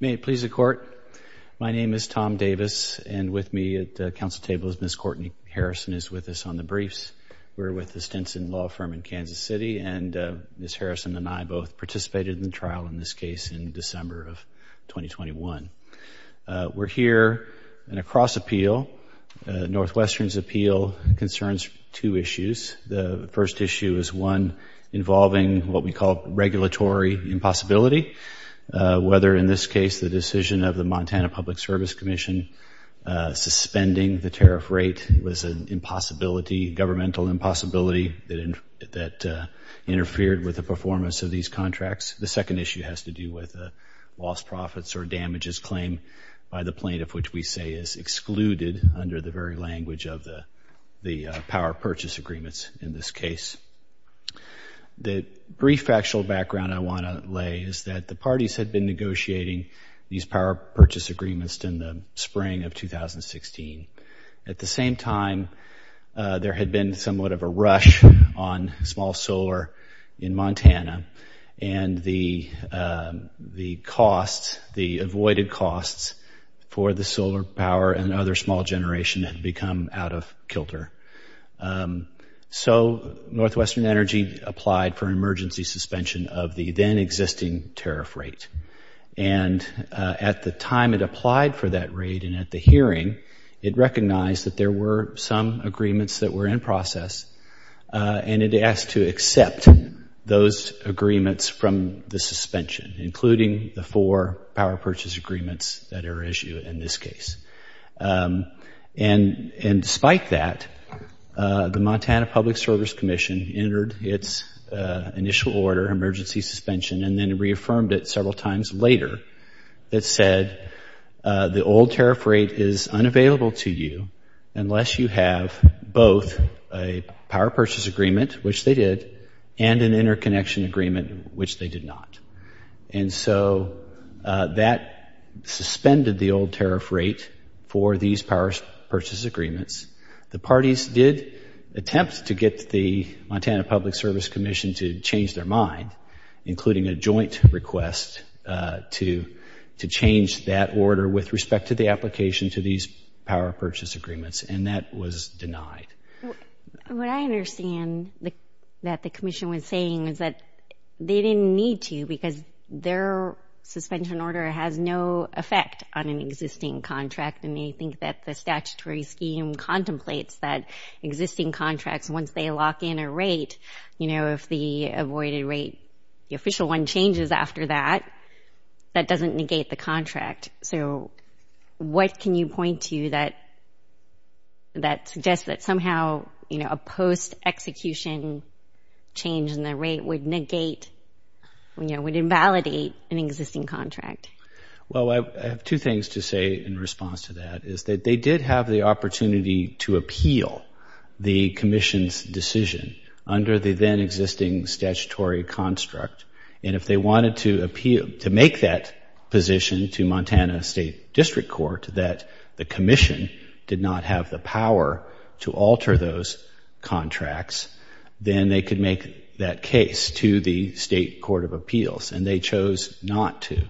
May it please the Court, my name is Tom Davis and with me at the Council table is Ms. Courtney Harrison is with us on the briefs. We're with the Stinson Law Firm in Kansas City and Ms. Harrison and I both participated in the trial in this case in December of 2021. We're here in a cross appeal. Northwestern's appeal concerns two issues. The first issue is one involving what we call regulatory impossibility. Whether in this case the decision of the Montana Public Service Commission suspending the tariff rate was an impossibility, governmental impossibility, that interfered with the performance of these contracts. The second issue has to do with lost profits or damages claim by the plaintiff which we say is excluded under the very language of the power purchase agreements in this case. The brief actual background I want to lay is that the parties had been negotiating these power purchase agreements in the spring of 2016. At the same time there had been somewhat of a rush on small solar in Montana and the costs, the of kilter. So Northwestern Energy applied for emergency suspension of the then existing tariff rate and at the time it applied for that rate and at the hearing it recognized that there were some agreements that were in process and it asked to accept those agreements from the suspension including the four power purchase agreements that are issued in this case. And despite that, the Montana Public Service Commission entered its initial order, emergency suspension, and then reaffirmed it several times later. It said the old tariff rate is unavailable to you unless you have both a power purchase agreement, which they did, and an interconnection agreement, which they did not. And so that suspended the old tariff rate for these power purchase agreements. The parties did attempt to get the Montana Public Service Commission to change their mind, including a joint request to to change that order with respect to the application to these power purchase agreements and that was denied. What I understand that the Commission was saying is that they didn't need to because their suspension order has no effect on an existing contract and they think that the statutory scheme contemplates that existing contracts, once they lock in a rate, you know, if the avoided rate, the official one, changes after that, that doesn't negate the contract. So what can you point to that suggests that somehow, you know, a post-execution change in the rate would negate, you know, would invalidate an existing contract? Well, I have two things to say in response to that is that they did have the opportunity to appeal the Commission's decision under the then existing statutory construct and if they wanted to appeal, to make that position to Montana State District Court that the Commission did not have the power to alter those contracts, then they could make that case to the State Court of Appeals and they chose not to.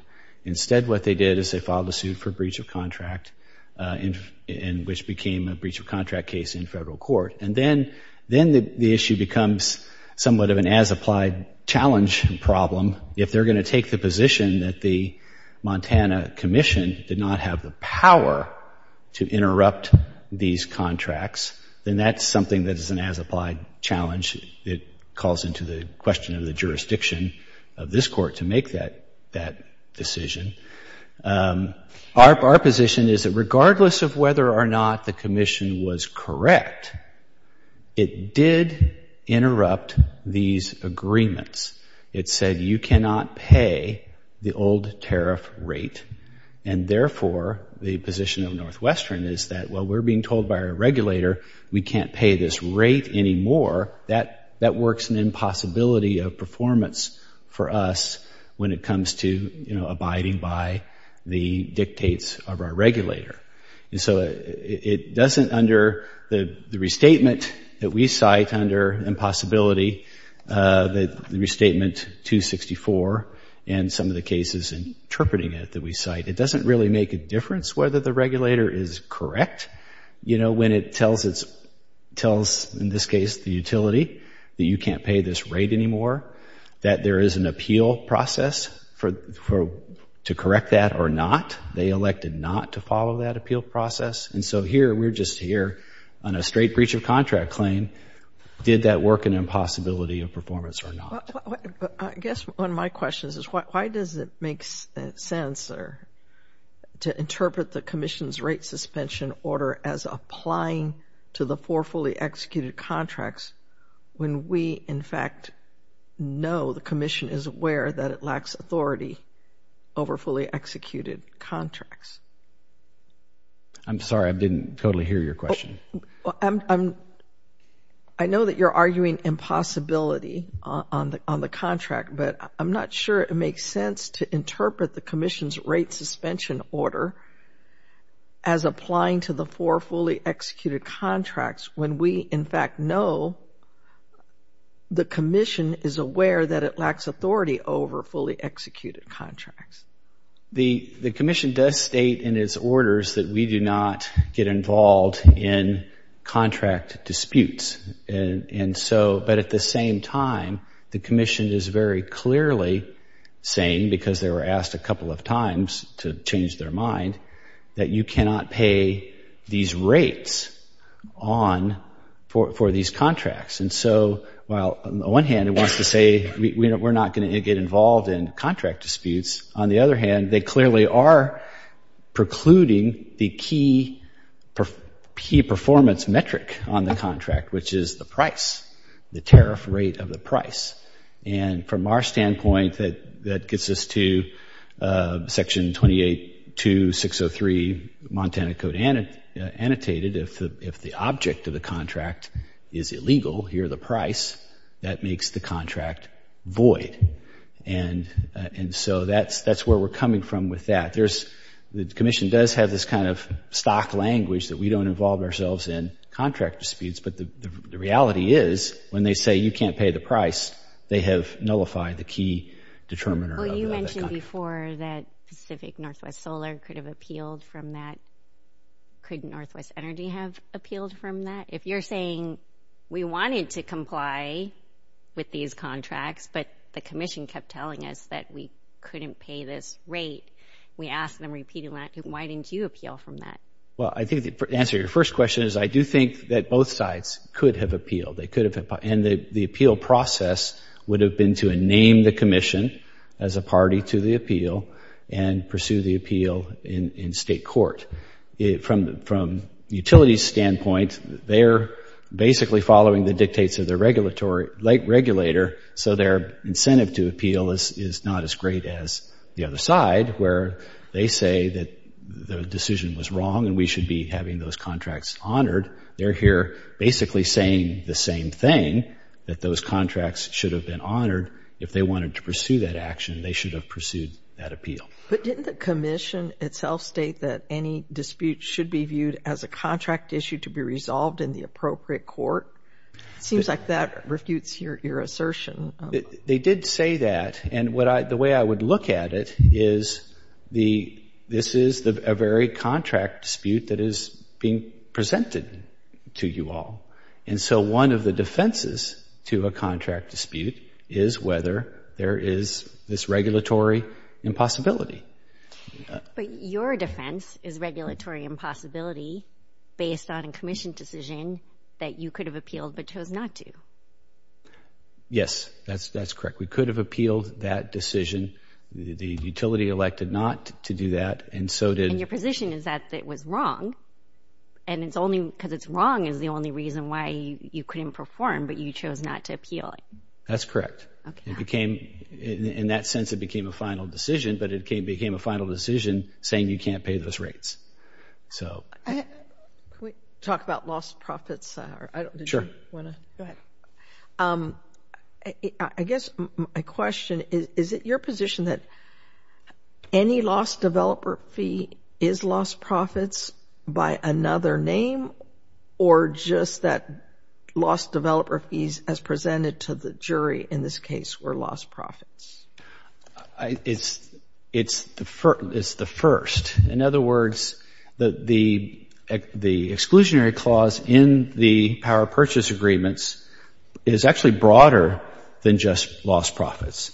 Instead, what they did is they filed a suit for breach of contract in, which became a breach of contract case in federal court and then, then the issue becomes somewhat of an as-applied challenge problem. If they're going to take the position that the Montana Commission did not have the power to interrupt these contracts, then that's something that is an as-applied challenge. It calls into the question of the jurisdiction of this court to make that decision. Our position is that regardless of whether or not the Commission was correct, it did interrupt these agreements. It said you cannot pay the old tariff rate and therefore, the position of Northwestern is that, well, we're being told by a regulator we can't pay this rate anymore. That works an impossibility of performance for us when it comes to, you know, abiding by the dictates of our regulator. And so, it doesn't under the restatement that we cite under impossibility, the restatement 264 and some of the cases interpreting it that we cite, it doesn't really make a difference whether the regulator is correct, you know, when it tells, in this case, the utility that you can't pay this rate anymore, that there is an appeal process to correct that or not. They elected not to follow that appeal process. And so here, we're just here on a straight breach of contract claim. Did that work an impossibility of performance or not? I guess one of my questions is why does it make sense to interpret the Commission's rate suspension order as applying to the four fully executed contracts when we, in fact, know the Commission is aware that it lacks authority over fully executed contracts? I'm sorry, I didn't totally hear your question. I know that you're arguing impossibility on the contract, but I'm not sure it makes sense to interpret the Commission's rate suspension order as applying to the four fully executed contracts when we, in fact, know the Commission is aware that it lacks authority over fully executed contracts. The Commission does state that we do not get involved in contract disputes. And so, but at the same time, the Commission is very clearly saying, because they were asked a couple of times to change their mind, that you cannot pay these rates on, for these contracts. And so, while on the one hand, it wants to say, you know, we're not going to get involved in contract disputes, on the other hand, they clearly are precluding the key performance metric on the contract, which is the price, the tariff rate of the price. And from our standpoint, that gets us to Section 28.2.603 Montana Code annotated, if the object of the contract is illegal, here the price, that makes the contract void. And so, that's where we're coming from with that. There's, the Commission does have this kind of stock language that we don't involve ourselves in contract disputes, but the reality is, when they say you can't pay the price, they have nullified the key determiner of the contract. Well, you mentioned before that Pacific Northwest Solar could have appealed from that. Could Northwest Energy have appealed from that? If you're saying, we wanted to comply with these contracts, but the Commission kept telling us that we couldn't pay this rate, we asked them repeatedly, why didn't you appeal from that? Well, I think, to answer your first question, is I do think that both sides could have appealed. They could have, and the appeal process would have been to name the Commission as a party to the appeal and pursue the appeal in state court. From the utility standpoint, they're basically following the dictates of the regulator, so their incentive to appeal is not as great as the other side, where they say that the decision was wrong and we should be having those contracts honored. They're here basically saying the same thing, that those contracts should have been honored. If they wanted to pursue that action, they should have pursued that appeal. But didn't the Commission itself state that any dispute should be viewed as a contract issue to be resolved in the appropriate court? It seems like that refutes your assertion. They did say that, and the way I would look at it is this is a very contract dispute that is being presented to you all, and so one of the defenses to a contract dispute is whether there is this regulatory impossibility. But your defense is regulatory impossibility based on a Commission decision that you could have appealed but chose not to. Yes, that's correct. We could have appealed that decision. The utility elected not to do that, and so did... And your position is that it was wrong, and it's only because it's the only reason why you couldn't perform, but you chose not to appeal it. That's correct. It became, in that sense, it became a final decision, but it became a final decision saying you can't pay those rates. So... Can we talk about lost profits? Sure. I guess my question is, is it your position that any lost developer fee is lost profits by another name, or just that lost developer fees, as presented to the jury in this case, were lost profits? It's the first. In other words, the exclusionary clause in the Power Purchase Agreements is actually broader than just lost profits.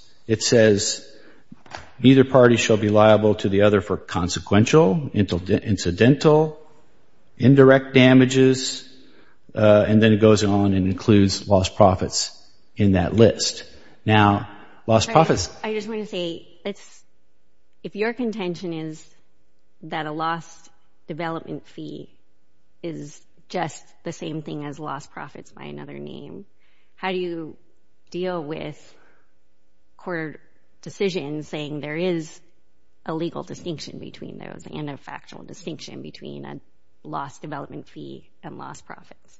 Either party shall be liable to the other for consequential, incidental, indirect damages, and then it goes on and includes lost profits in that list. Now, lost profits... I just want to say, if your contention is that a lost development fee is just the same thing as lost profits by another name, how do you deal with court decisions saying there is a legal distinction between those, and a factual distinction between a lost development fee and lost profits?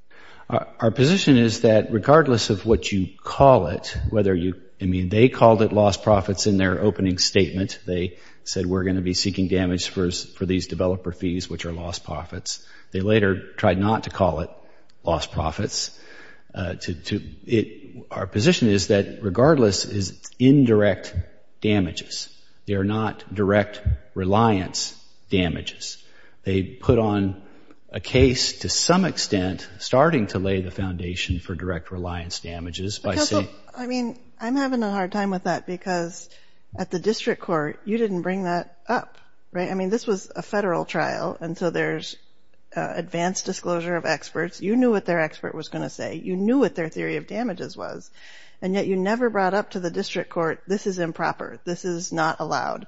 Our position is that, regardless of what you call it, whether you... I mean, they called it lost profits in their opening statement. They said, we're going to be seeking damage for these developer fees, which are lost profits. Our position is that, regardless, it's indirect damages. They're not direct reliance damages. They put on a case, to some extent, starting to lay the foundation for direct reliance damages by saying... I mean, I'm having a hard time with that, because at the district court, you didn't bring that up, right? I mean, this was a federal trial, and so there's advanced disclosure of experts. You knew what their expert was going to say. You knew what their theory of damages was, and yet you never brought up to the district court, this is improper. This is not allowed.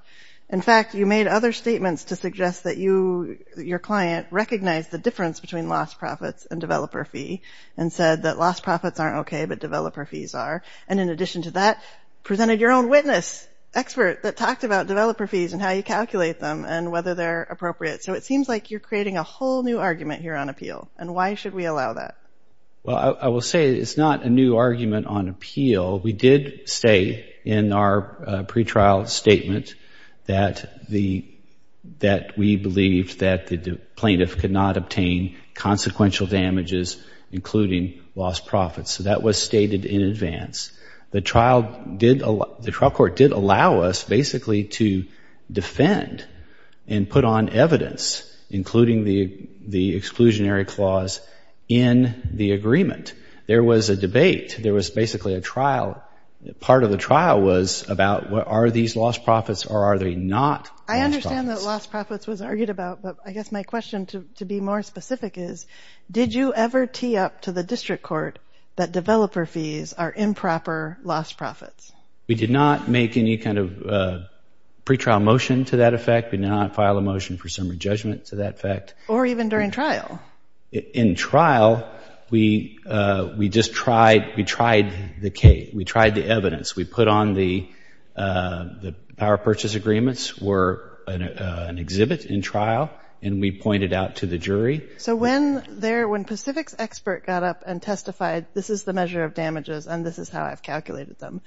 In fact, you made other statements to suggest that your client recognized the difference between lost profits and developer fee, and said that lost profits aren't okay, but developer fees are. And in addition to that, presented your own witness, expert, that talked about developer fees and how you calculate them, and whether they're appropriate. So it seems like you're should we allow that? Well, I will say it's not a new argument on appeal. We did say in our pre-trial statement that we believed that the plaintiff could not obtain consequential damages, including lost profits. So that was stated in advance. The trial court did allow us, basically, to defend and put on evidence, including the exclusionary clause, in the agreement. There was a debate. There was basically a trial. Part of the trial was about, are these lost profits or are they not? I understand that lost profits was argued about, but I guess my question to be more specific is, did you ever tee up to the district court that developer fees are improper lost profits? We did not make any kind of pre-trial motion to that effect. We did not file a motion for some re-judgment to that effect. Or even during trial? In trial, we just tried the case. We tried the evidence. We put on the power purchase agreements were an exhibit in trial, and we pointed out to the jury. So when Pacific's expert got up and testified, this is the measure of damages and this is how I've calculated them,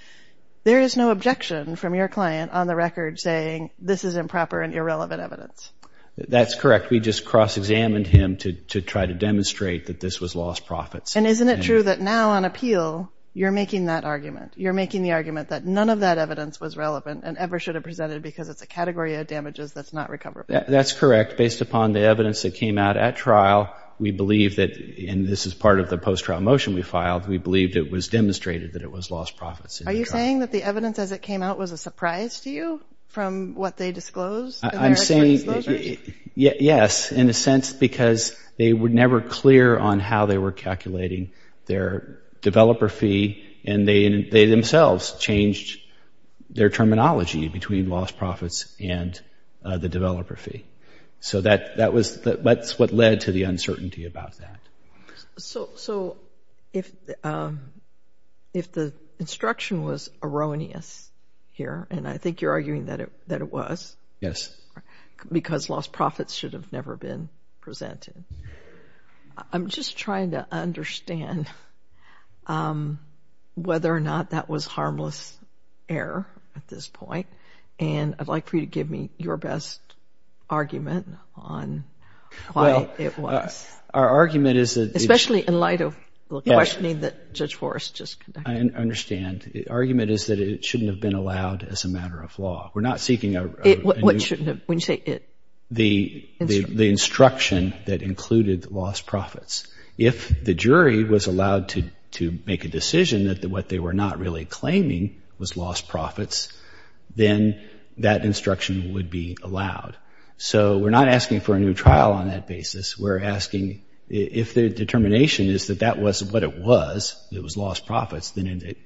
there is no objection from your client on the record saying this is improper and irrelevant evidence. That's correct. We just cross-examined him to try to demonstrate that this was lost profits. And isn't it true that now on appeal, you're making that argument? You're making the argument that none of that evidence was relevant and ever should have presented because it's a category of damages that's not recoverable. That's correct. Based upon the evidence that came out at trial, we believe that, and this is part of the post-trial motion we demonstrated, that it was lost profits. Are you saying that the evidence as it came out was a surprise to you from what they disclosed? I'm saying yes, in a sense, because they were never clear on how they were calculating their developer fee, and they themselves changed their terminology between lost profits and the developer fee. So that's what led to the uncertainty about that. So if the instruction was erroneous here, and I think you're arguing that it was, because lost profits should have never been presented, I'm just trying to understand whether or not that was harmless error at this point, and I'd like for you to give me your best argument on why it was. Well, our argument is that... Especially in light of the questioning that Judge Forrest just conducted. I understand. The argument is that it shouldn't have been allowed as a matter of law. We're not seeking a... What shouldn't have? When you say it... The instruction that included lost profits. If the jury was allowed to make a decision that what they were not really claiming was lost profits, then that instruction would be allowed. So we're not asking for a new trial on that basis. We're asking if the determination is that that was what it was, it was lost profits,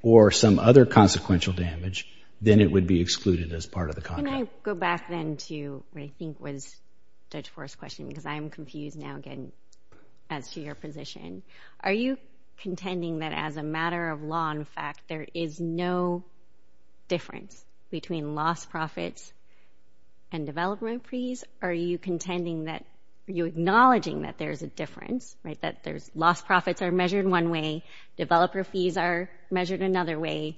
or some other consequential damage, then it would be excluded as part of the contract. Can I go back then to what I think was Judge Forrest's question, because I'm confused now again as to your position. Are you contending that as a matter of law, in fact, there is no difference between lost profits and development fees? Are you contending that... Are you acknowledging that there's a difference, right? That there's lost profits are measured one way, developer fees are measured another way,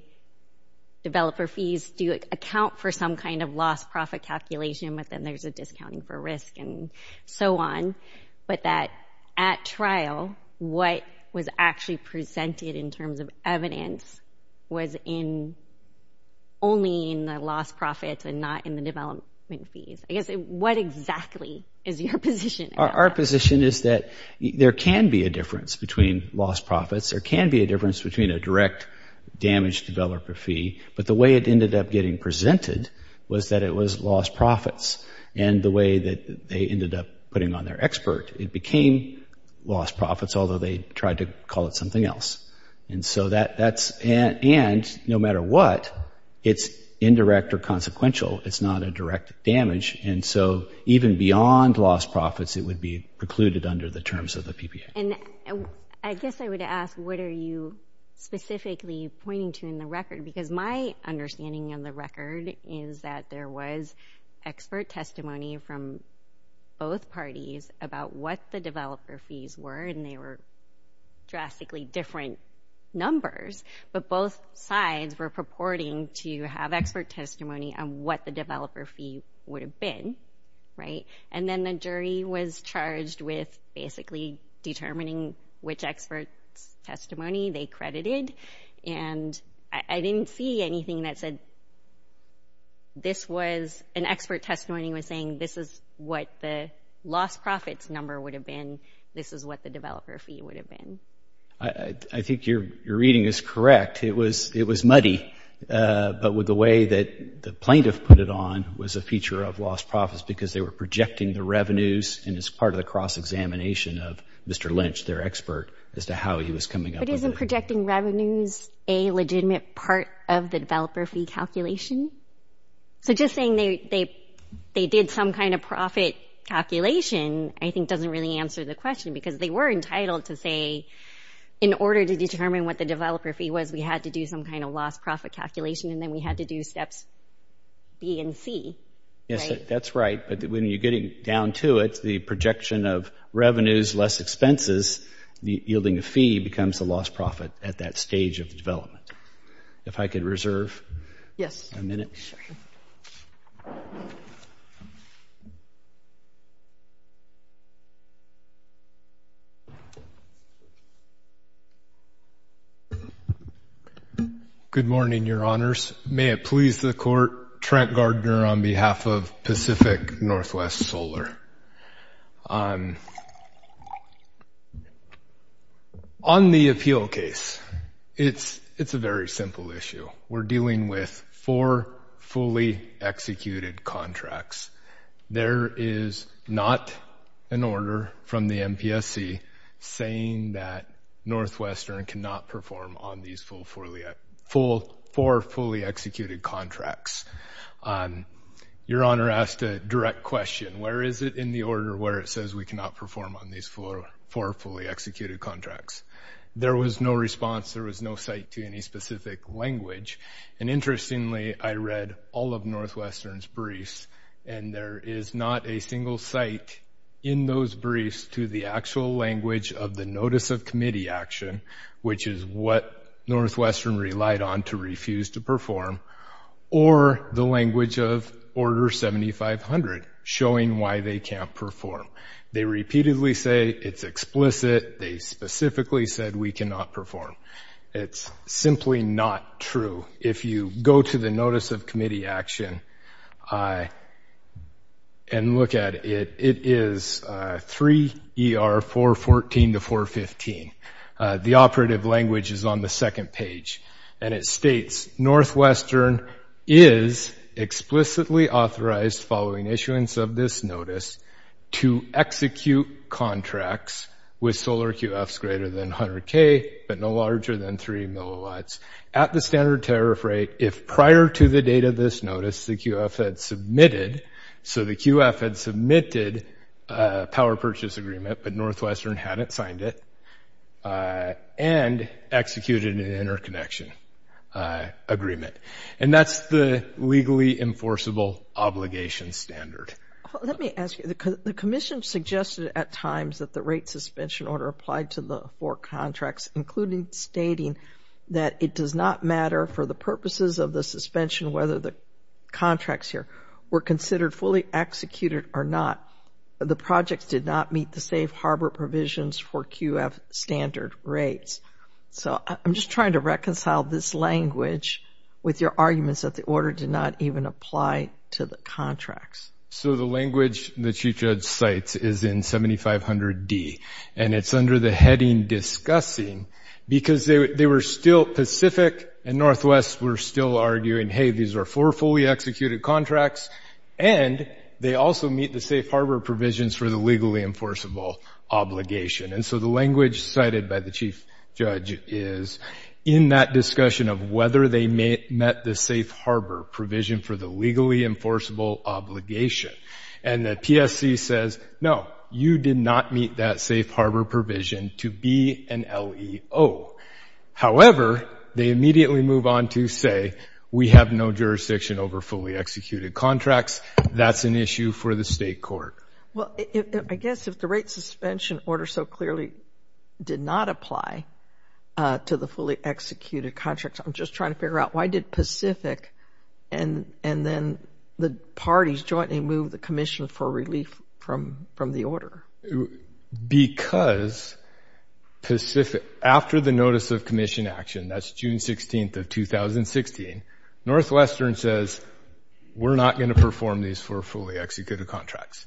developer fees do account for some kind of lost profit calculation, but then there's a discounting for risk and so on. But that at trial, what was actually presented in terms of evidence was only in the lost profits and not in the development fees. I guess what exactly is your position? Our position is that there can be a difference between lost profits. There can be a difference between a direct damage developer fee, but the way it ended up getting presented was that it was lost profits. And the way that they ended up putting on their expert, it became lost profits, although they tried to call it something else. And so that's... And no matter what, it's indirect or consequential. It's not a direct damage. And so even beyond lost profits, it would be precluded under the terms of the PPA. And I guess I would ask, what are you specifically pointing to in the record? Because my understanding of the record is that there was expert testimony from both parties about what the developer fees were, and they were drastically different numbers. But both sides were purporting to have expert testimony on what the developer fee would have been, right? And then the jury was charged with basically determining which expert's testimony they credited. And I didn't see anything that said this was... An expert testimony was saying this is what the lost profits number would have been. This is what the developer fee would have been. I think your reading is correct. It was muddy. But with the way that the plaintiff put it on was a feature of lost profits because they were projecting the revenues, and it's part of cross-examination of Mr. Lynch, their expert, as to how he was coming up with it. But isn't projecting revenues a legitimate part of the developer fee calculation? So just saying they did some kind of profit calculation, I think doesn't really answer the question because they were entitled to say, in order to determine what the developer fee was, we had to do some kind of lost profit calculation, and then we had to do steps B and C, right? Yes, that's right. But when you're getting down to it, the projection of revenues, less expenses, yielding a fee becomes a lost profit at that stage of the development. If I could reserve a minute. Yes, sure. Good morning, your honors. May it please the court, Trent Gardner on behalf of Pacific Northwest Solar. On the appeal case, it's a very simple issue. We're dealing with four fully executed contracts. There is not an order from the MPSC saying that Northwestern cannot perform on these four fully executed contracts. Your honor asked a direct question. Where is it in the order where it says we cannot perform on these four fully executed contracts? There was no response. There was no site to any specific language. And interestingly, I read all of Northwestern's briefs, and there is not a single site in those briefs to the actual language of the notice of perform or the language of order 7500 showing why they can't perform. They repeatedly say it's explicit. They specifically said we cannot perform. It's simply not true. If you go to the notice of committee action and look at it, it is 3 ER 414 to 415. The operative language is on the second page, and it states, Northwestern is explicitly authorized following issuance of this notice to execute contracts with solar QFs greater than 100k but no larger than 3 milliwatts at the standard tariff rate if prior to the date of this notice the QF had submitted. So the QF had submitted a power purchase agreement, but Northwestern hadn't signed it and executed an interconnection agreement. And that's the legally enforceable obligation standard. Let me ask you, the commission suggested at times that the rate suspension order applied to the four contracts, including stating that it does not matter for the purposes of the suspension whether the contracts here were considered fully executed or not. The projects did not meet the harbor provisions for QF standard rates. So I'm just trying to reconcile this language with your arguments that the order did not even apply to the contracts. So the language the chief judge cites is in 7500D, and it's under the heading discussing, because they were still Pacific and Northwest were still arguing, hey, these are four fully obligation. And so the language cited by the chief judge is in that discussion of whether they met the safe harbor provision for the legally enforceable obligation. And the PSC says, no, you did not meet that safe harbor provision to be an LEO. However, they immediately move on to say, we have no jurisdiction over fully executed contracts. That's an issue for the state court. Well, I guess if the rate suspension order so clearly did not apply to the fully executed contracts, I'm just trying to figure out why did Pacific and then the parties jointly move the commission for relief from the order? Because Pacific, after the notice of commission action, that's June 16th of 2016, Northwestern says, we're not going to perform these four fully executed contracts,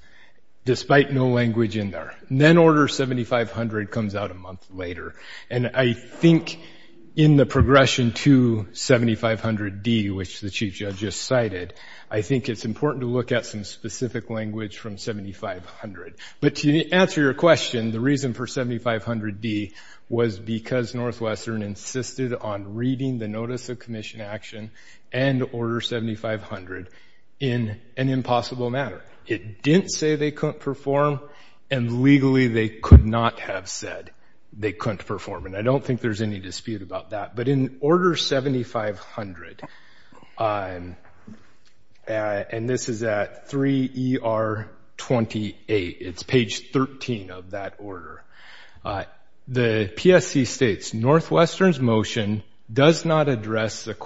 despite no language in there. Then order 7500 comes out a month later. And I think in the progression to 7500D, which the chief judge just cited, I think it's important to look at some specific language from 7500. But to answer your question, the reason for 7500D was because Northwestern insisted on reading the notice of commission action and order 7500 in an impossible manner. It didn't say they couldn't perform, and legally they could not have said they couldn't perform. And I don't think there's any dispute about that. But in order 7500, and this is at 3ER28, it's page 13 of that order, the PSC states, Northwestern's motion does not address the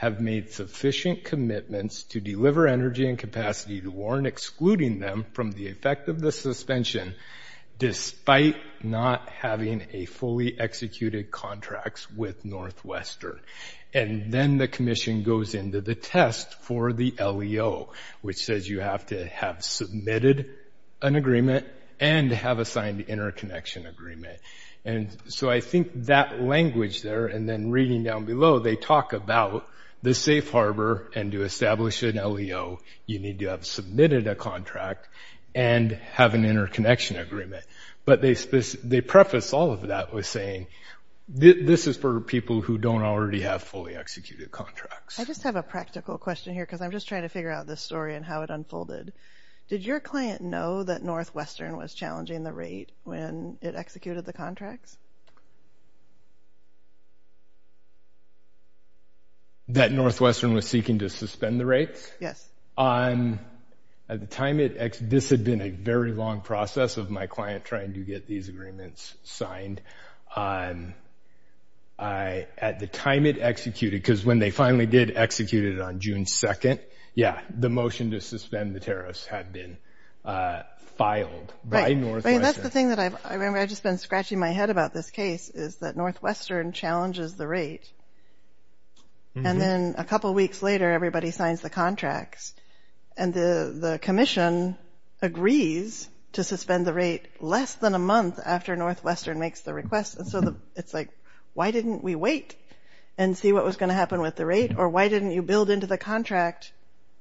have made sufficient commitments to deliver energy and capacity to warrant excluding them from the effect of the suspension, despite not having a fully executed contracts with Northwestern. And then the commission goes into the test for the LEO, which says you have to have submitted an agreement and have a signed interconnection agreement. And so I think that language there, and then reading down below, they talk about the safe harbor, and to establish an LEO, you need to have submitted a contract and have an interconnection agreement. But they preface all of that with saying, this is for people who don't already have fully executed contracts. I just have a practical question here because I'm just trying to figure out this story and how it unfolded. Did your client know that Northwestern was challenging the rate when it executed the contracts? That Northwestern was seeking to suspend the rates? Yes. At the time it, this had been a very long process of my client trying to get these agreements signed. At the time it executed, because when they finally did execute it on June 2nd, yeah, the motion to suspend the tariffs had been filed by Northwestern. That's the thing that I remember, I've just been scratching my head about this case, is that Northwestern challenges the rate. And then a couple of weeks later, everybody signs the contracts. And the commission agrees to suspend the rate less than a month after Northwestern makes the request. And so it's like, why didn't we wait and see what was going to happen with the rate? Or why didn't you build into the contract,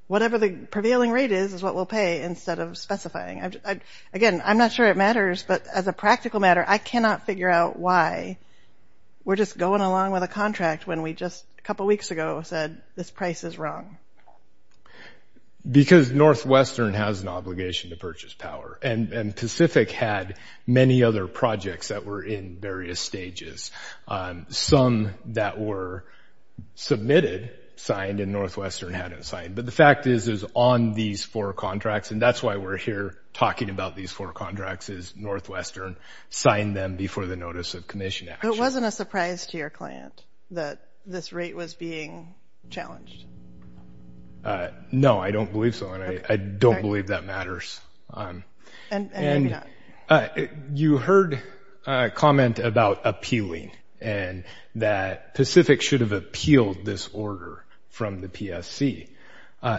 whatever the prevailing rate is, what we'll pay instead of specifying? Again, I'm not sure it matters, but as a practical matter, I cannot figure out why we're just going along with a contract when we just, a couple weeks ago, said this price is wrong. Because Northwestern has an obligation to purchase power. And Pacific had many other projects that were in various stages. Some that were submitted, signed, and Northwestern hadn't signed. But the fact is, on these four contracts, and that's why we're here talking about these four contracts, is Northwestern signed them before the notice of commission action. It wasn't a surprise to your client that this rate was being challenged? No, I don't believe so. And I don't believe that matters. You heard a comment about appealing, and that Pacific should have appealed this order from the PSC.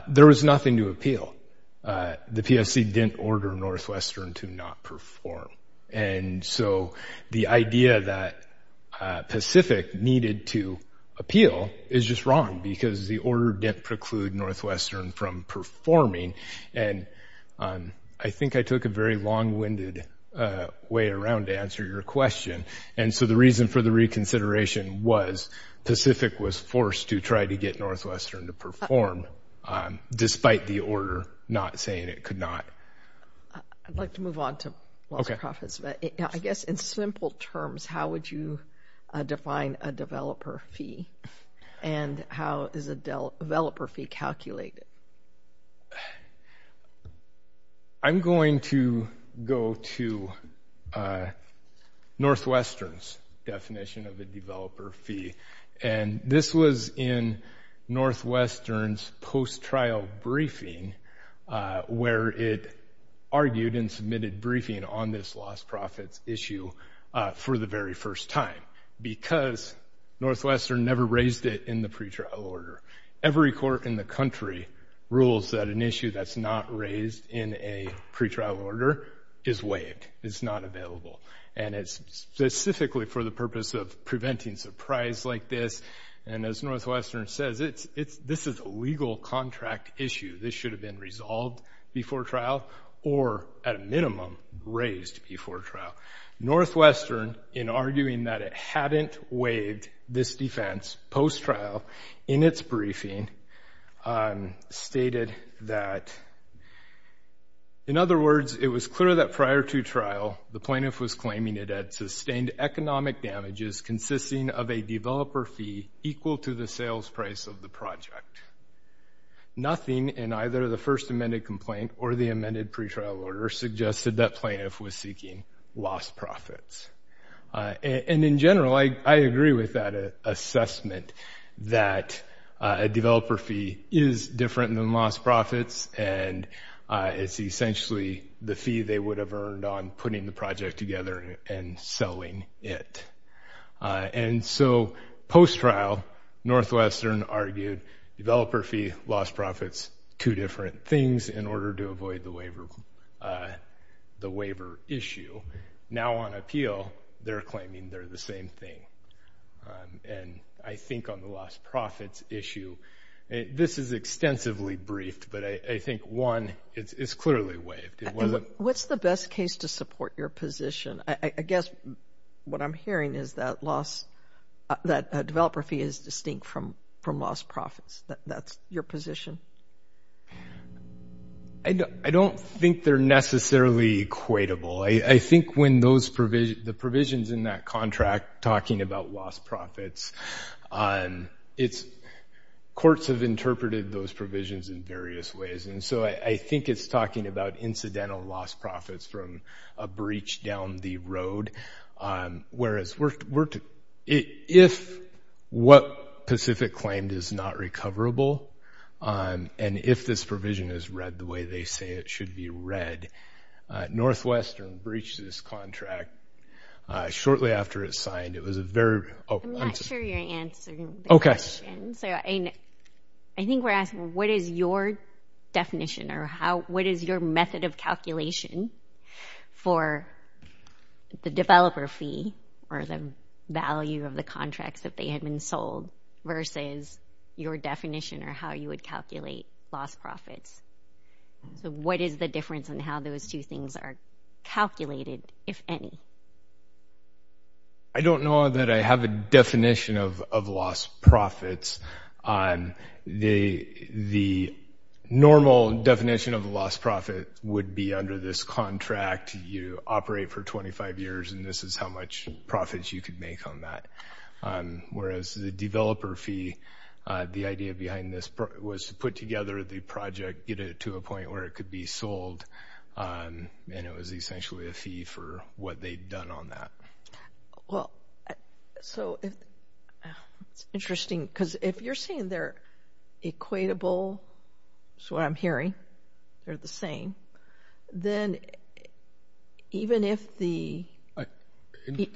There was nothing to appeal. The PSC didn't order Northwestern to not perform. And so the idea that Pacific needed to appeal is just wrong, because the order didn't preclude Northwestern from performing. And I think I took a very long-winded way around to answer your question. And so the reason for the reconsideration was Pacific was forced to try to get Northwestern to perform, despite the order not saying it could not. I'd like to move on to loss of profits, but I guess in simple terms, how would you define a developer fee? And how is a developer fee calculated? I'm going to go to Northwestern's definition of a developer fee. And this was in Northwestern's post-trial briefing, where it argued and submitted briefing on this loss of profits issue for the very first time, because Northwestern never raised it in the pretrial order. Every court in the country rules that an issue that's not raised in a pretrial order is waived. It's not available. And it's specifically for the purpose of preventing surprise like this. And as Northwestern says, this is a legal contract issue. This should have been resolved before trial, or at a minimum, raised before trial. Northwestern, in arguing that it hadn't waived this defense post-trial in its briefing, stated that, in other words, it was clear that prior to trial, the plaintiff was of the project. Nothing in either the first amended complaint or the amended pretrial order suggested that plaintiff was seeking lost profits. And in general, I agree with that assessment that a developer fee is different than lost profits, and it's essentially the fee they would have earned on putting the project together and selling it. And so post-trial, Northwestern argued developer fee, lost profits, two different things in order to avoid the waiver issue. Now on appeal, they're claiming they're the same thing. And I think on the lost profits issue, this is extensively briefed, but I think one, it's clearly waived. What's the best case to support your position? I guess what I'm hearing is that loss, that a developer fee is distinct from lost profits. That's your position. I don't think they're necessarily equatable. I think when the provisions in that contract talking about lost profits, courts have interpreted those provisions in various ways, and so I think it's talking about incidental lost profits from a breach down the road, whereas if what Pacific claimed is not recoverable, and if this provision is read the way they say it should be read, Northwestern breached this contract shortly after it signed. I'm not sure you're answering the question. So I think we're asking, what is your of calculation for the developer fee or the value of the contracts that they had been sold versus your definition or how you would calculate lost profits? So what is the difference in how those two things are calculated, if any? I don't know that I have a definition of would be under this contract. You operate for 25 years, and this is how much profits you could make on that, whereas the developer fee, the idea behind this was to put together the project, get it to a point where it could be sold, and it was essentially a fee for what they'd done on that. Well, so it's interesting because if you're saying they're equatable, that's what I'm hearing, they're the same, then even if the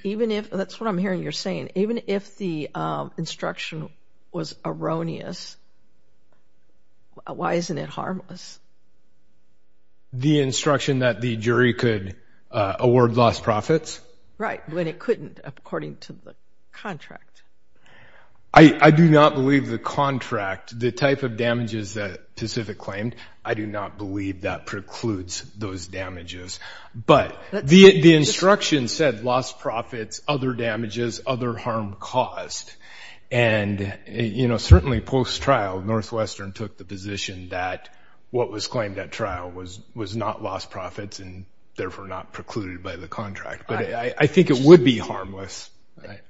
even if, that's what I'm hearing you're saying, even if the instruction was erroneous, why isn't it harmless? The instruction that the jury could award lost profits? Right, when it couldn't, according to the contract. I do not believe the contract, the type of damages that Pacific claimed, I do not believe that precludes those damages. But the instruction said lost profits, other damages, other harm caused. And, you know, certainly post-trial, Northwestern took the position that what was claimed at trial was not lost profits and therefore not precluded by the contract. But I think it would be harmless.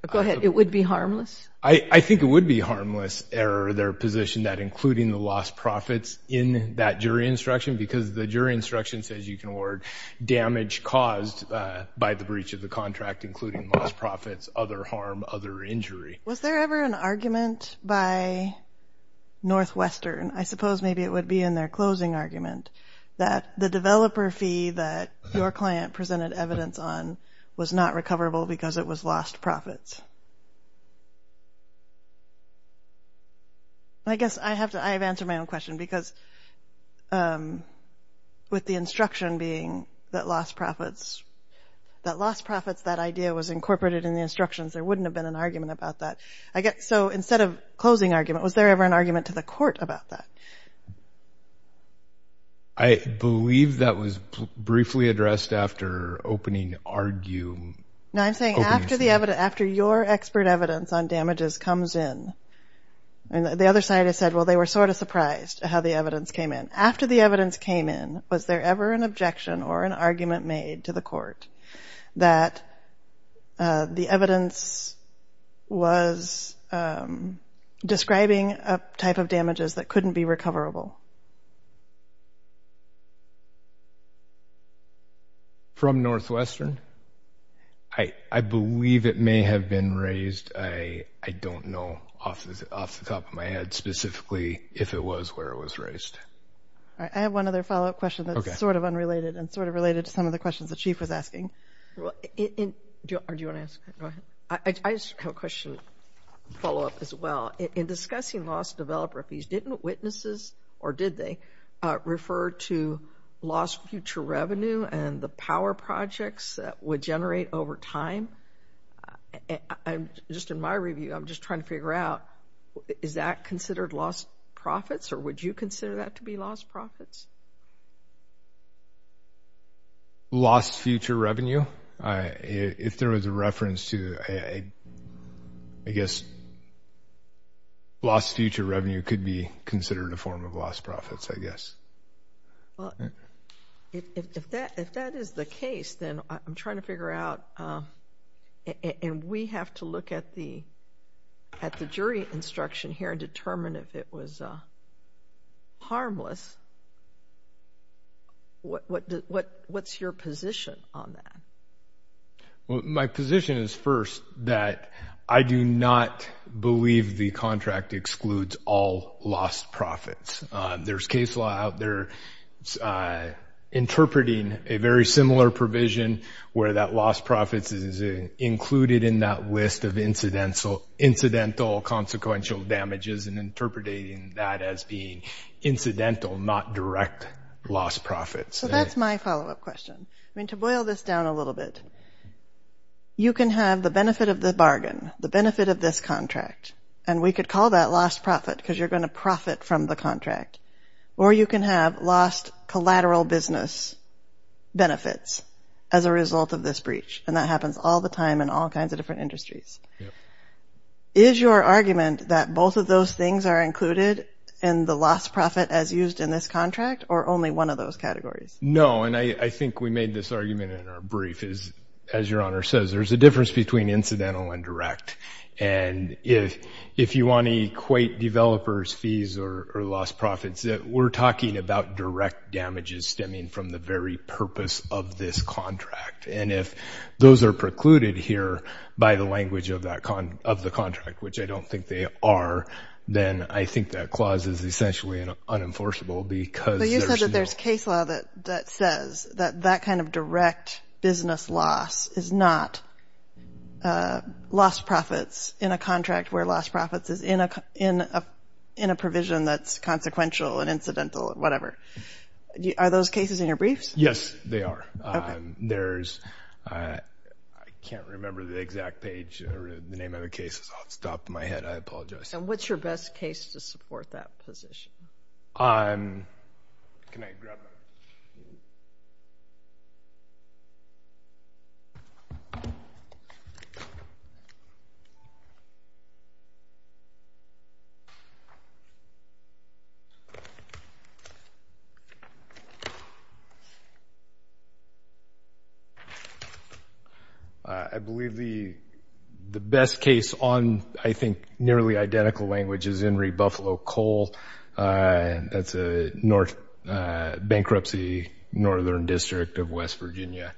Go ahead, it would be harmless? I think it would be harmless error, their position that including the lost profits in that jury instruction, because the jury instruction says you can award damage caused by the breach of the contract, including lost profits, other harm, other injury. Was there ever an argument by Northwestern, I suppose maybe it would be in their closing argument, that the client presented evidence on was not recoverable because it was lost profits? I guess I have to, I have answered my own question because with the instruction being that lost profits, that idea was incorporated in the instructions, there wouldn't have been an argument about that. So instead of closing argument, was there ever an argument to the court about that? I believe that was briefly addressed after opening argument. No, I'm saying after the evidence, after your expert evidence on damages comes in, and the other side has said, well, they were sort of surprised how the evidence came in. After the evidence came in, was there ever an objection or an argument made to the court that the evidence was describing a type of damages that couldn't be recoverable? From Northwestern? I believe it may have been raised. I don't know off the top of my head, specifically if it was where it was raised. I have one other follow-up question that's sort of unrelated and sort of related to some of the questions the Chief was asking. I just have a question, follow-up as well. In discussing lost developer fees, didn't witnesses or did they refer to lost future revenue and the power projects that would generate over time? Just in my review, I'm just trying to figure out, is that considered lost profits or would you consider that to be lost profits? Lost future revenue? If there was a reference to, I guess, lost future revenue could be considered a form of lost profits, I guess. Well, if that is the case, then I'm trying to figure out, and we have to look at the what's your position on that? Well, my position is first that I do not believe the contract excludes all lost profits. There's case law out there interpreting a very similar provision where that lost profits is included in that list of incidental consequential damages and interpreting that as being incidental, not direct lost profits. That's my follow-up question. I mean, to boil this down a little bit, you can have the benefit of the bargain, the benefit of this contract, and we could call that lost profit because you're going to profit from the contract, or you can have lost collateral business benefits as a result of this breach, and that happens all the time in all kinds of different industries. Is your argument that both of those things are or only one of those categories? No, and I think we made this argument in our brief. As your Honor says, there's a difference between incidental and direct, and if you want to equate developers' fees or lost profits, we're talking about direct damages stemming from the very purpose of this contract, and if those are precluded here by the language of the contract, which I don't think they are, then I think that clause is essentially unenforceable because... But you said that there's case law that says that that kind of direct business loss is not lost profits in a contract where lost profits is in a provision that's consequential and incidental, whatever. Are those cases in your briefs? Yes, they are. There's... I can't remember the exact page or the name of the cases off the top of my head. I apologize. And what's your best case to support that position? Can I grab that? I believe the best case on, I think, nearly identical language is Henry Buffalo Coal. That's a bankruptcy northern district of West Virginia.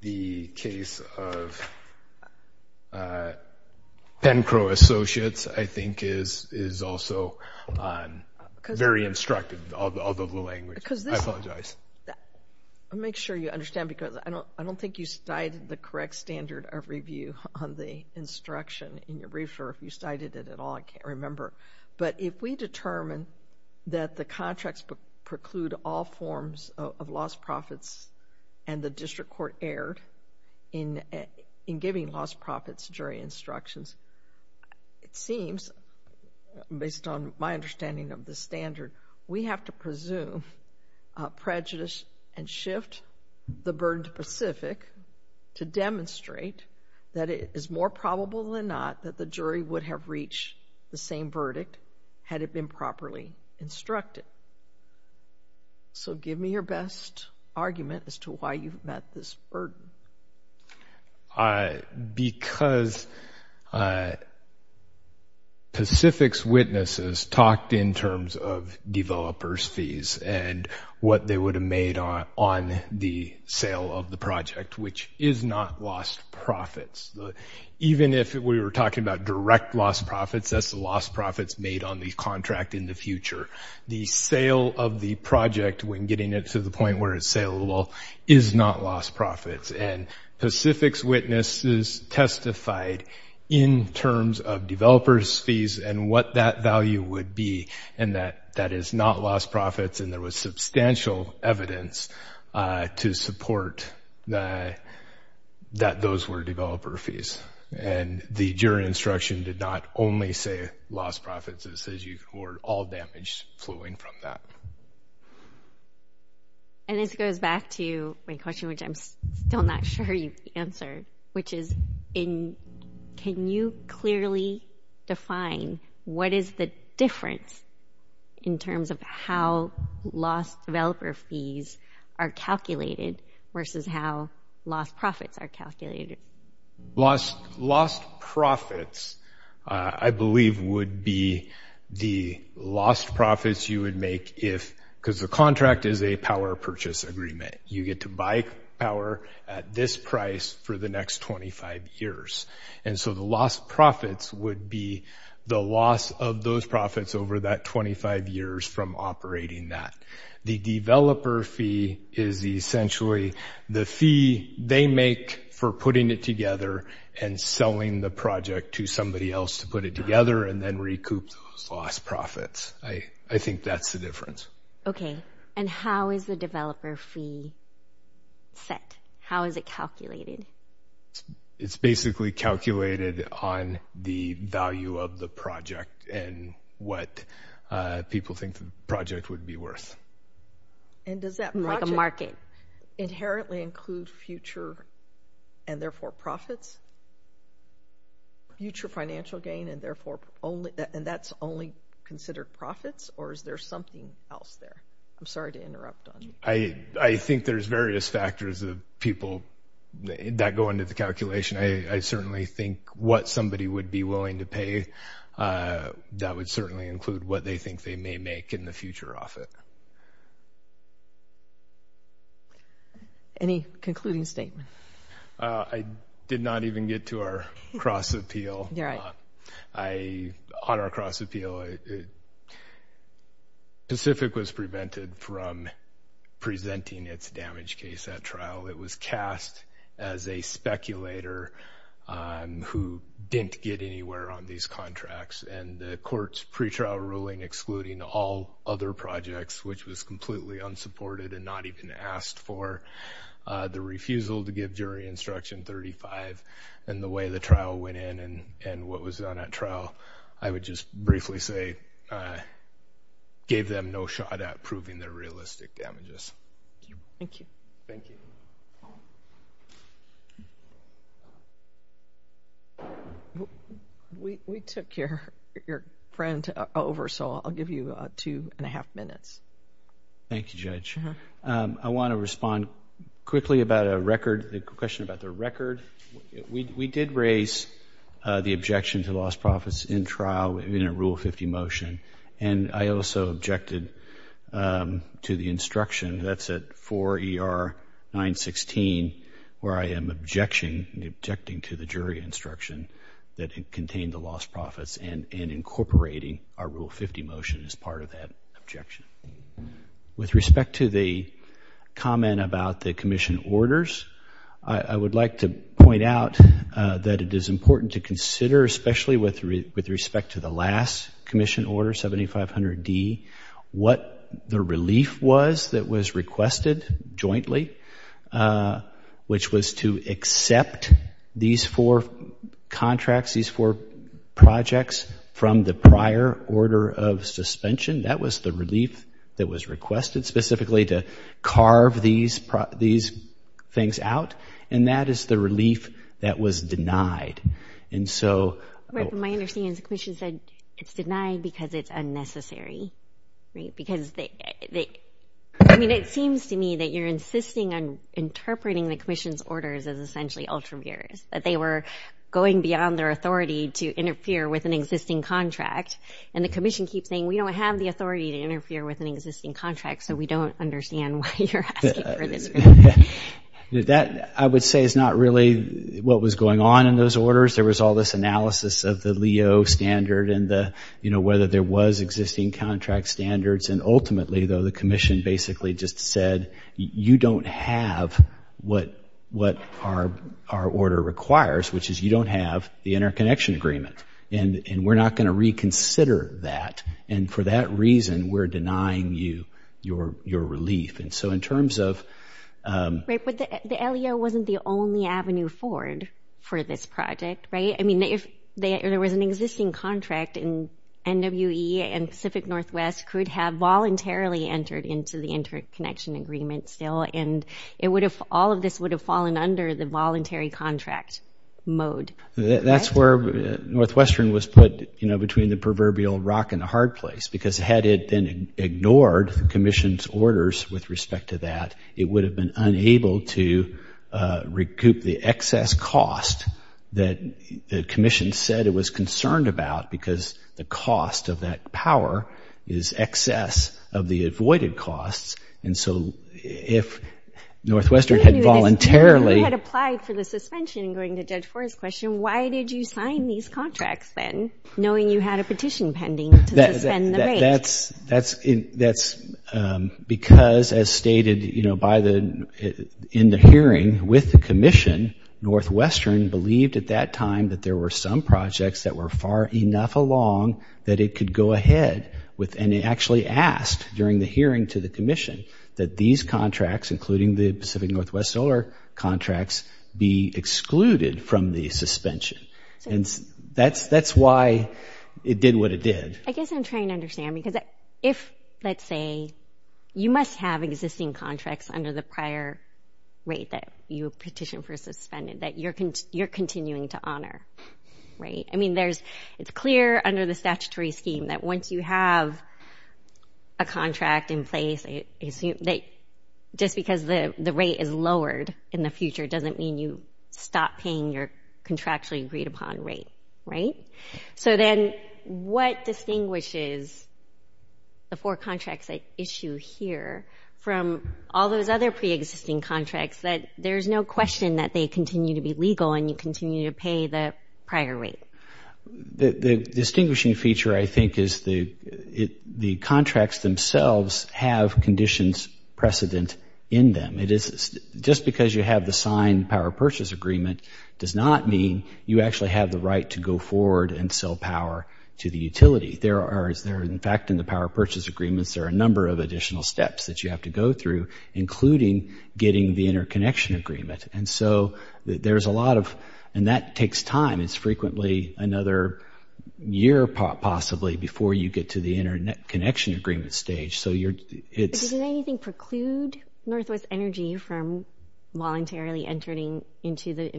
The case of very instructive of the language. I apologize. Make sure you understand because I don't think you cited the correct standard of review on the instruction in your brief, or if you cited it at all, I can't remember. But if we determine that the contracts preclude all forms of lost profits and the district court erred in giving lost profits during instructions, it seems, based on my understanding of the standard, we have to presume prejudice and shift the burden to Pacific to demonstrate that it is more probable than not that the jury would have reached the same verdict had it been erred. Because Pacific's witnesses talked in terms of developers fees and what they would have made on the sale of the project, which is not lost profits. Even if we were talking about direct lost profits, that's the lost profits made on the contract in the future. The sale of the project, when getting it to the point where it's saleable, is not lost profits. And Pacific's witnesses testified in terms of developers fees and what that value would be, and that that is not lost profits. And there was substantial evidence to support that those were developer fees. And the jury instruction did not only say lost profits. It says you were all damaged flowing from that. And this goes back to my question, which I'm still not sure you answered, which is in, can you clearly define what is the difference in terms of how lost developer fees are calculated versus how lost profits are calculated? Lost profits, I believe, would be the lost profits you would make if, because the contract is a power purchase agreement, you get to buy power at this price for the next 25 years. And so the lost profits would be the loss of those profits over that 25 years from operating that. The developer fee is essentially the fee they make for putting it together and selling the project to somebody else to put it together and then recoup those lost profits. I think that's the difference. Okay, and how is the developer fee set? How is it calculated? It's basically calculated on the value of the project and what people think the project would be worth. And does that market inherently include future and therefore profits? Future financial gain and therefore only, and that's only considered profits, or is there something else there? I'm sorry to interrupt on you. I think there's various factors of people that go into the calculation. I certainly think what somebody would be willing to pay, that would certainly include what they think they may make in the future off it. Any concluding statement? I did not even get to our cross-appeal. You're right. On our cross-appeal, Pacific was prevented from presenting its damage case at trial. It was cast as a speculator who didn't get anywhere on these contracts. And the court's pretrial ruling excluding all other projects, which was completely unsupported and not even asked for the refusal to give jury instruction 35. And the way the trial went in and what was done at trial, I would just briefly say gave them no shot at proving their realistic damages. Thank you. Thank you. We took your friend over, so I'll give you two and a half minutes. Thank you, Judge. I want to respond quickly about a record, the question about the record. We did raise the objection to lost profits in trial in a Rule 50 motion. And I also objected to the instruction, that's at 4 ER 916, where I am objecting to the jury instruction that contained the lost profits and incorporating our Rule 50 motion as part of that objection. With respect to the comment about the commission orders, I would like to point out that it is important to consider, especially with respect to the last commission order, 7500 D, what the relief was that was requested jointly, which was to accept these four contracts, these four projects from the prior order of suspension. That was the relief that was requested specifically to carve these things out. And that is the relief that was denied. My understanding is the commission said it's denied because it's unnecessary. It seems to me that you're insisting on interpreting the commission's orders as essentially ultraviarious, that they were going beyond their authority to interfere with an existing contract. And the commission keeps saying, we don't have the authority to interfere with an existing contract, so we don't understand why you're asking for this relief. That, I would say, is not really what was going on in those orders. There was all this analysis of the LEO standard and whether there was existing contract standards. And ultimately, though, the commission basically just said, you don't have what our order requires, which is you don't have the interconnection agreement. And we're not going to reconsider that. And for that reason, we're the only avenue forward for this project, right? I mean, if there was an existing contract, and NWE and Pacific Northwest could have voluntarily entered into the interconnection agreement still, and it would have – all of this would have fallen under the voluntary contract mode. That's where Northwestern was put, you know, between the proverbial rock and the hard place. Because had it then ignored the commission's orders with respect to that, it would have been able to recoup the excess cost that the commission said it was concerned about, because the cost of that power is excess of the avoided costs. And so if Northwestern had voluntarily – You had applied for the suspension, according to Judge Forrest's question. Why did you sign these contracts then, knowing you had a petition pending to suspend the rate? That's because, as stated, you know, by the – in the hearing with the commission, Northwestern believed at that time that there were some projects that were far enough along that it could go ahead with – and it actually asked, during the hearing to the commission, that these contracts, including the Pacific Northwest solar contracts, be excluded from the suspension. And that's why it did what it did. I guess I'm trying to understand, because if, let's say, you must have existing contracts under the prior rate that you petitioned for suspended that you're continuing to honor, right? I mean, it's clear under the statutory scheme that once you have a contract in place, just because the rate is lowered in the future doesn't mean you stop paying your contractually agreed-upon rate, right? So then what distinguishes the four contracts I issue here from all those other preexisting contracts that there's no question that they continue to be legal and you continue to pay the prior rate? The distinguishing feature, I think, is the contracts themselves have conditions precedent in them. It is – just because you have the signed power purchase agreement does not mean you actually have the right to go forward and sell power to the utility. There are – in fact, in the power purchase agreements, there are a number of additional steps that you have to go through, including getting the interconnection agreement. And so there's a lot of – and that takes time. It's frequently another year, possibly, before you get to the interconnection agreement stage. Did anything preclude Northwest Energy from voluntarily entering into the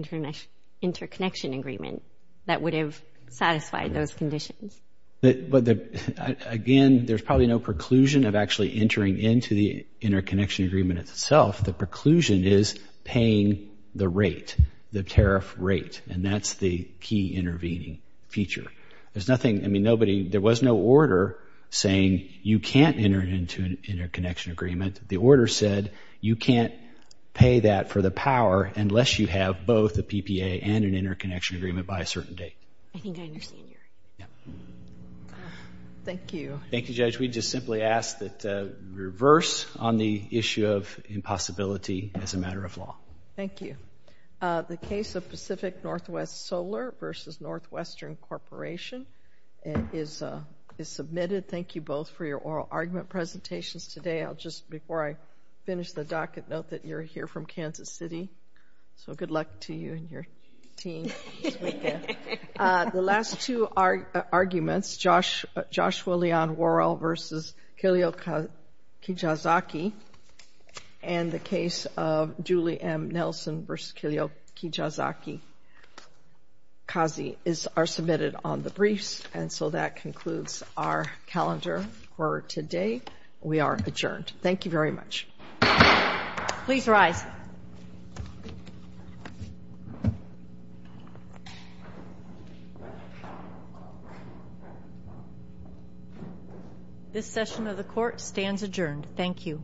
interconnection agreement that would have satisfied those conditions? Again, there's probably no preclusion of actually entering into the interconnection agreement itself. The preclusion is paying the rate, the tariff rate, and that's the intervening feature. There's nothing – I mean, nobody – there was no order saying you can't enter into an interconnection agreement. The order said you can't pay that for the power unless you have both the PPA and an interconnection agreement by a certain date. I think I understand. Thank you. Thank you, Judge. We just simply ask that you reverse on the issue of impossibility as a matter of law. Thank you. The case of Pacific Northwest Solar versus Northwestern Corporation is submitted. Thank you both for your oral argument presentations today. I'll just – before I finish the docket, note that you're here from Kansas City. So good luck to you and your team this weekend. The last two arguments, Joshua Leon Worrell versus Kilyo Kijazaki, and the case of Julie M. Nelson versus Kilyo Kijazaki-Kazi are submitted on the briefs. And so that concludes our calendar for today. We are adjourned. Thank you very much. Please rise. This session of the court stands adjourned. Thank you.